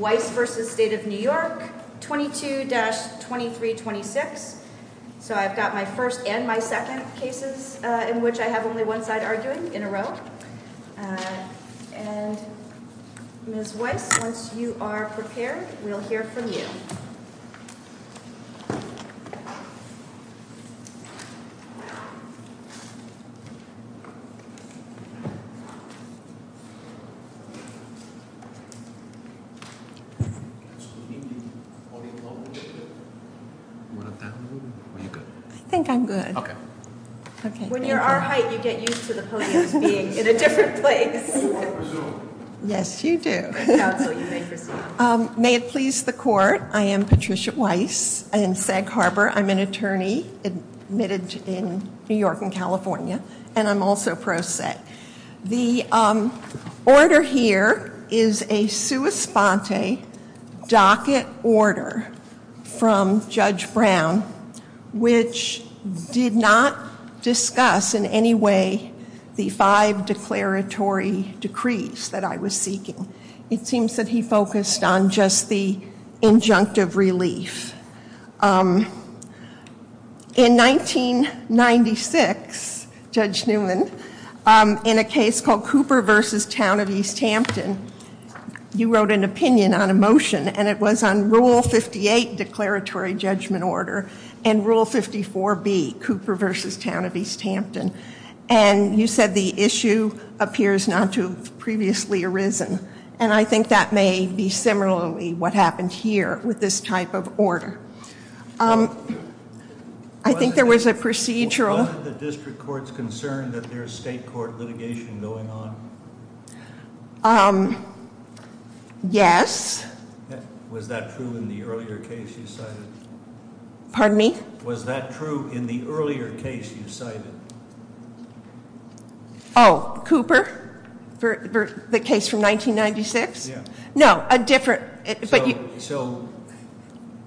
22-2326. So I've got my first and my second cases in which I have only one side arguing, in a row. And Ms. Weiss, once you are prepared, we'll hear from you. I think I'm good. When you're our height, you get used to the podiums being in a different place. Yes, you do. May it please the court, I am Patricia Weiss. I'm in Sag Harbor. I'm an attorney admitted in New York and California, and I'm also pro se. The order here is a sua sponte docket order from Judge Brown, which did not discuss in any way the five declaratory decrees that I was seeking. It seems that he focused on just the injunctive relief. In 1996, Judge Newman, in a case called Cooper v. Town of East Hampton, you wrote an opinion on a motion, and it was on Rule 58, declaratory judgment order, and Rule 54B, Cooper v. Town of East Hampton. And you said the issue appears not to have previously arisen. And I think that may be similarly what happened here with this type of order. I think there was a procedural- Wasn't the district courts concerned that there's state court litigation going on? Yes. Was that true in the earlier case you cited? Pardon me? Was that true in the earlier case you cited? Oh, Cooper, the case from 1996? Yeah. No, a different- So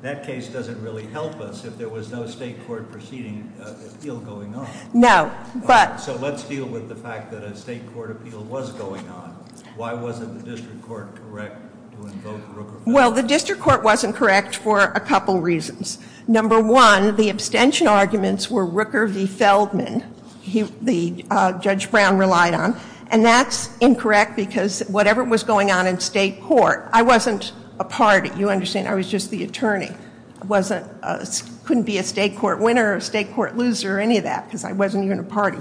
that case doesn't really help us if there was no state court proceeding appeal going on. No, but- So let's deal with the fact that a state court appeal was going on. Why wasn't the district court correct to invoke Rooker- Well, the district court wasn't correct for a couple reasons. Number one, the abstention arguments were Rooker v. Feldman, the judge Brown relied on, and that's incorrect because whatever was going on in state court- I wasn't a party. You understand? I was just the attorney. I couldn't be a state court winner or a state court loser or any of that because I wasn't even a party.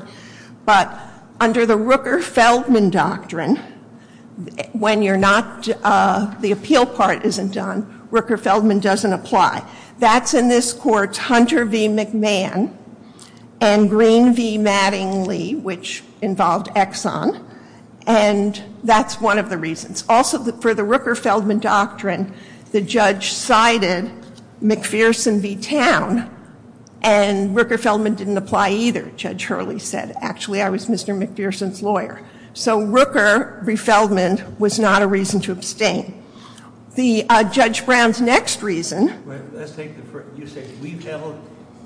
But under the Rooker-Feldman doctrine, when the appeal part isn't done, Rooker-Feldman doesn't apply. That's in this court's Hunter v. McMahon and Green v. Mattingly, which involved Exxon, and that's one of the reasons. Also, for the Rooker-Feldman doctrine, the judge cited McPherson v. Town, and Rooker-Feldman didn't apply either, Judge Hurley said. Actually, I was Mr. McPherson's lawyer. So Rooker v. Feldman was not a reason to abstain. The Judge Brown's next reason- You say we've held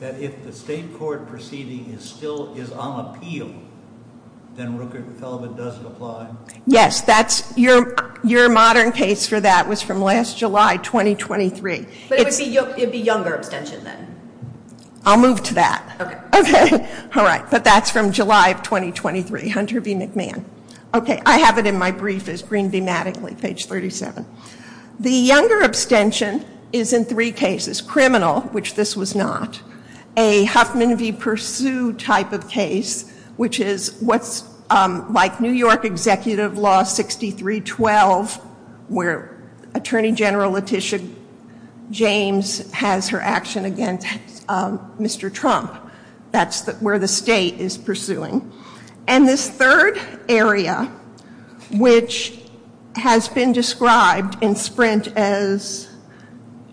that if the state court proceeding is on appeal, then Rooker-Feldman doesn't apply? Yes. Your modern case for that was from last July, 2023. But it would be younger abstention then? I'll move to that. Okay. Okay. All right. But that's from July of 2023, Hunter v. McMahon. Okay. I have it in my brief as Green v. Mattingly, page 37. The younger abstention is in three cases. Criminal, which this was not. A Huffman v. Pursue type of case, which is what's like New York Executive Law 6312, where Attorney General Letitia James has her action against Mr. Trump. That's where the state is pursuing. And this third area, which has been described in Sprint as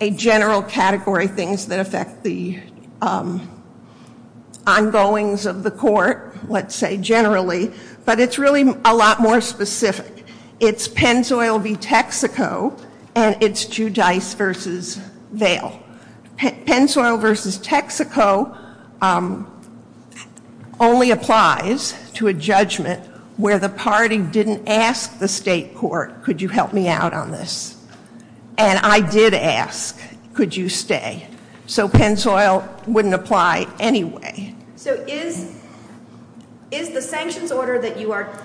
a general category, things that affect the ongoings of the court, let's say, generally. But it's really a lot more specific. It's Penzoyl v. Texaco, and it's Judice v. Vail. Penzoyl v. Texaco only applies to a judgment where the party didn't ask the state court, could you help me out on this? And I did ask, could you stay? So Penzoyl wouldn't apply anyway. So is the sanctions order that you are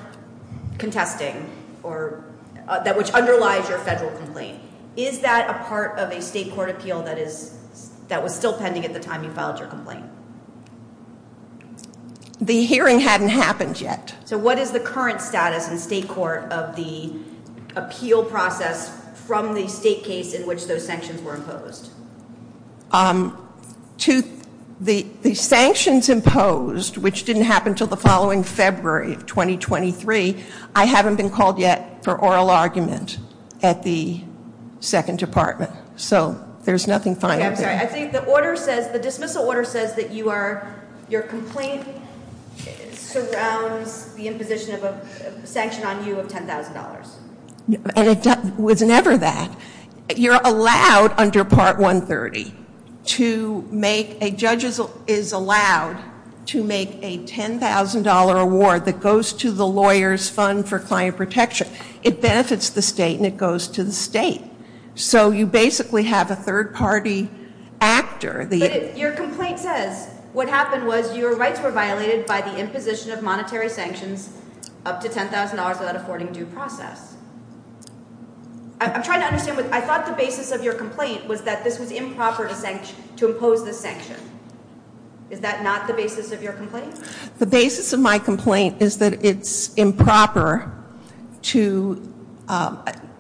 contesting, which underlies your federal complaint, is that a part of a state court appeal that was still pending at the time you filed your complaint? The hearing hadn't happened yet. So what is the current status in state court of the appeal process from the state case in which those sanctions were imposed? The sanctions imposed, which didn't happen until the following February of 2023, I haven't been called yet for oral argument at the Second Department. So there's nothing final. Okay, I'm sorry. I think the order says, the dismissal order says that you are, your complaint surrounds the imposition of a sanction on you of $10,000. And it was never that. You're allowed under Part 130 to make, a judge is allowed to make a $10,000 award that goes to the lawyer's fund for client protection. It benefits the state and it goes to the state. So you basically have a third-party actor. But your complaint says what happened was your rights were violated by the imposition of monetary sanctions up to $10,000 without affording due process. I'm trying to understand. I thought the basis of your complaint was that this was improper to impose this sanction. Is that not the basis of your complaint? The basis of my complaint is that it's improper to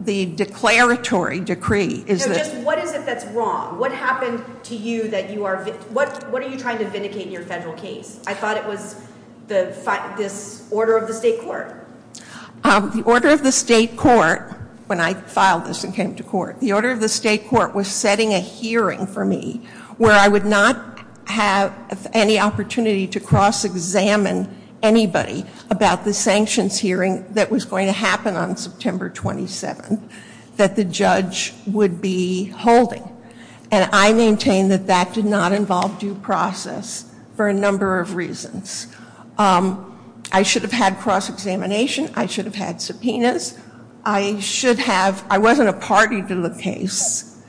the declaratory decree. So just what is it that's wrong? What happened to you that you are, what are you trying to vindicate in your federal case? I thought it was this order of the state court. The order of the state court, when I filed this and came to court, the order of the state court was setting a hearing for me where I would not have any opportunity to cross-examine anybody about the sanctions hearing that was going to happen on September 27th that the judge would be holding. And I maintain that that did not involve due process for a number of reasons. I should have had cross-examination. I should have had subpoenas. I should have, I wasn't a party to the case.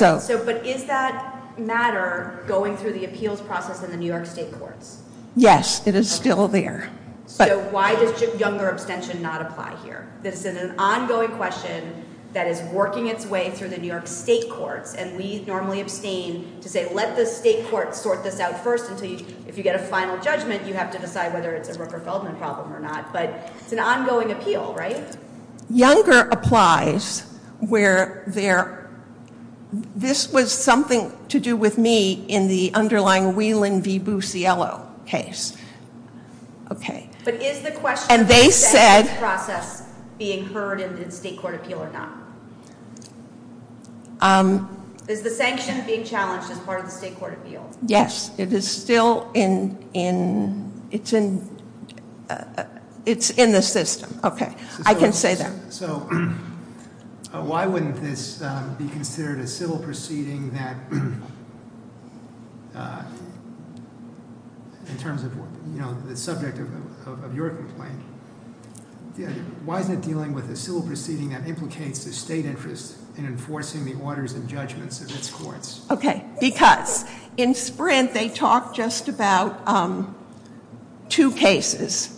But is that matter going through the appeals process in the New York state courts? Yes, it is still there. So why does younger abstention not apply here? This is an ongoing question that is working its way through the New York state courts, and we normally abstain to say let the state courts sort this out first until if you get a final judgment you have to decide whether it's a Rooker-Feldman problem or not. But it's an ongoing appeal, right? Younger applies where there, this was something to do with me in the underlying Whelan v. Busiello case. But is the question of the sanctions process being heard in the state court appeal or not? Is the sanction being challenged as part of the state court appeal? Yes, it is still in, it's in the system. Okay, I can say that. So why wouldn't this be considered a civil proceeding that, in terms of the subject of your complaint, why is it dealing with a civil proceeding that implicates the state interest in enforcing the orders and judgments of its courts? Okay, because in Sprint they talk just about two cases.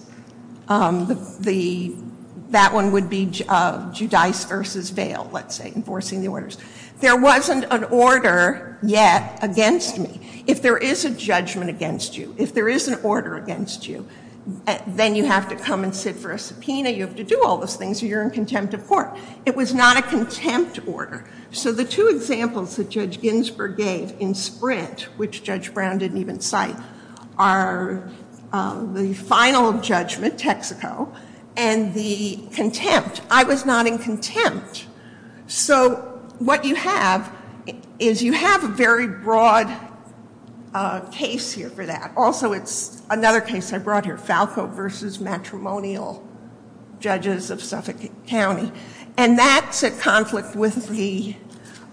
That one would be Giudice v. Vail, let's say, enforcing the orders. There wasn't an order yet against me. If there is a judgment against you, if there is an order against you, then you have to come and sit for a subpoena, you have to do all those things or you're in contempt of court. It was not a contempt order. So the two examples that Judge Ginsburg gave in Sprint, which Judge Brown didn't even cite, are the final judgment, Texaco, and the contempt. I was not in contempt. So what you have is you have a very broad case here for that. Also, it's another case I brought here, Falco v. Matrimonial Judges of Suffolk County. And that's at conflict with the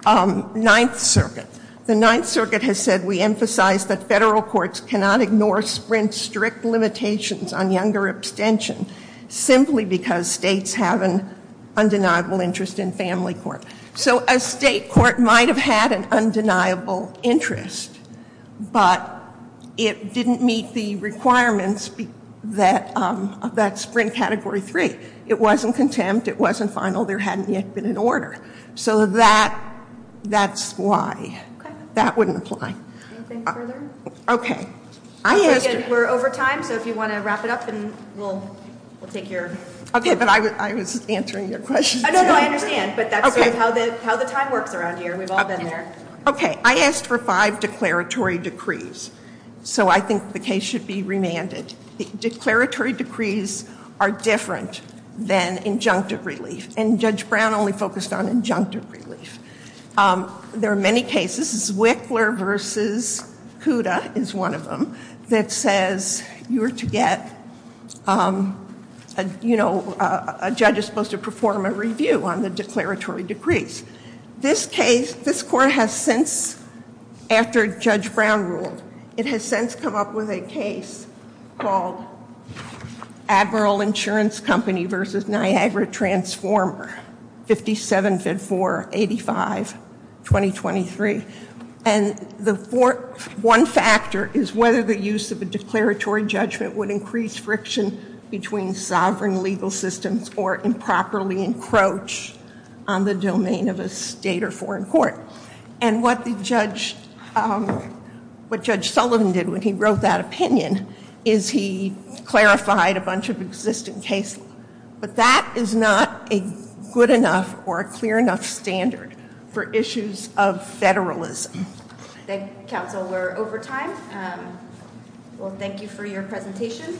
Ninth Circuit. The Ninth Circuit has said we emphasize that federal courts cannot ignore Sprint's strict limitations on younger abstention simply because states have an undeniable interest in family court. So a state court might have had an undeniable interest, but it didn't meet the requirements of that Sprint Category 3. It wasn't contempt. It wasn't final. There hadn't yet been an order. So that's why. That wouldn't apply. Anything further? Okay. We're over time, so if you want to wrap it up and we'll take your- Okay, but I was answering your question. No, no, I understand. But that's sort of how the time works around here. We've all been there. Okay. I asked for five declaratory decrees. So I think the case should be remanded. Declaratory decrees are different than injunctive relief, and Judge Brown only focused on injunctive relief. There are many cases. This is Wickler v. Cuda is one of them that says you were to get- you know, a judge is supposed to perform a review on the declaratory decrees. This case, this court has since, after Judge Brown ruled, it has since come up with a case called Admiral Insurance Company v. Niagara Transformer, 57-4-85-2023. And the one factor is whether the use of a declaratory judgment would increase friction between sovereign legal systems or improperly encroach on the domain of a state or foreign court. And what Judge Sullivan did when he wrote that opinion is he clarified a bunch of existing cases. But that is not a good enough or a clear enough standard for issues of federalism. Thank you, counsel. We're over time. Well, thank you for your presentation.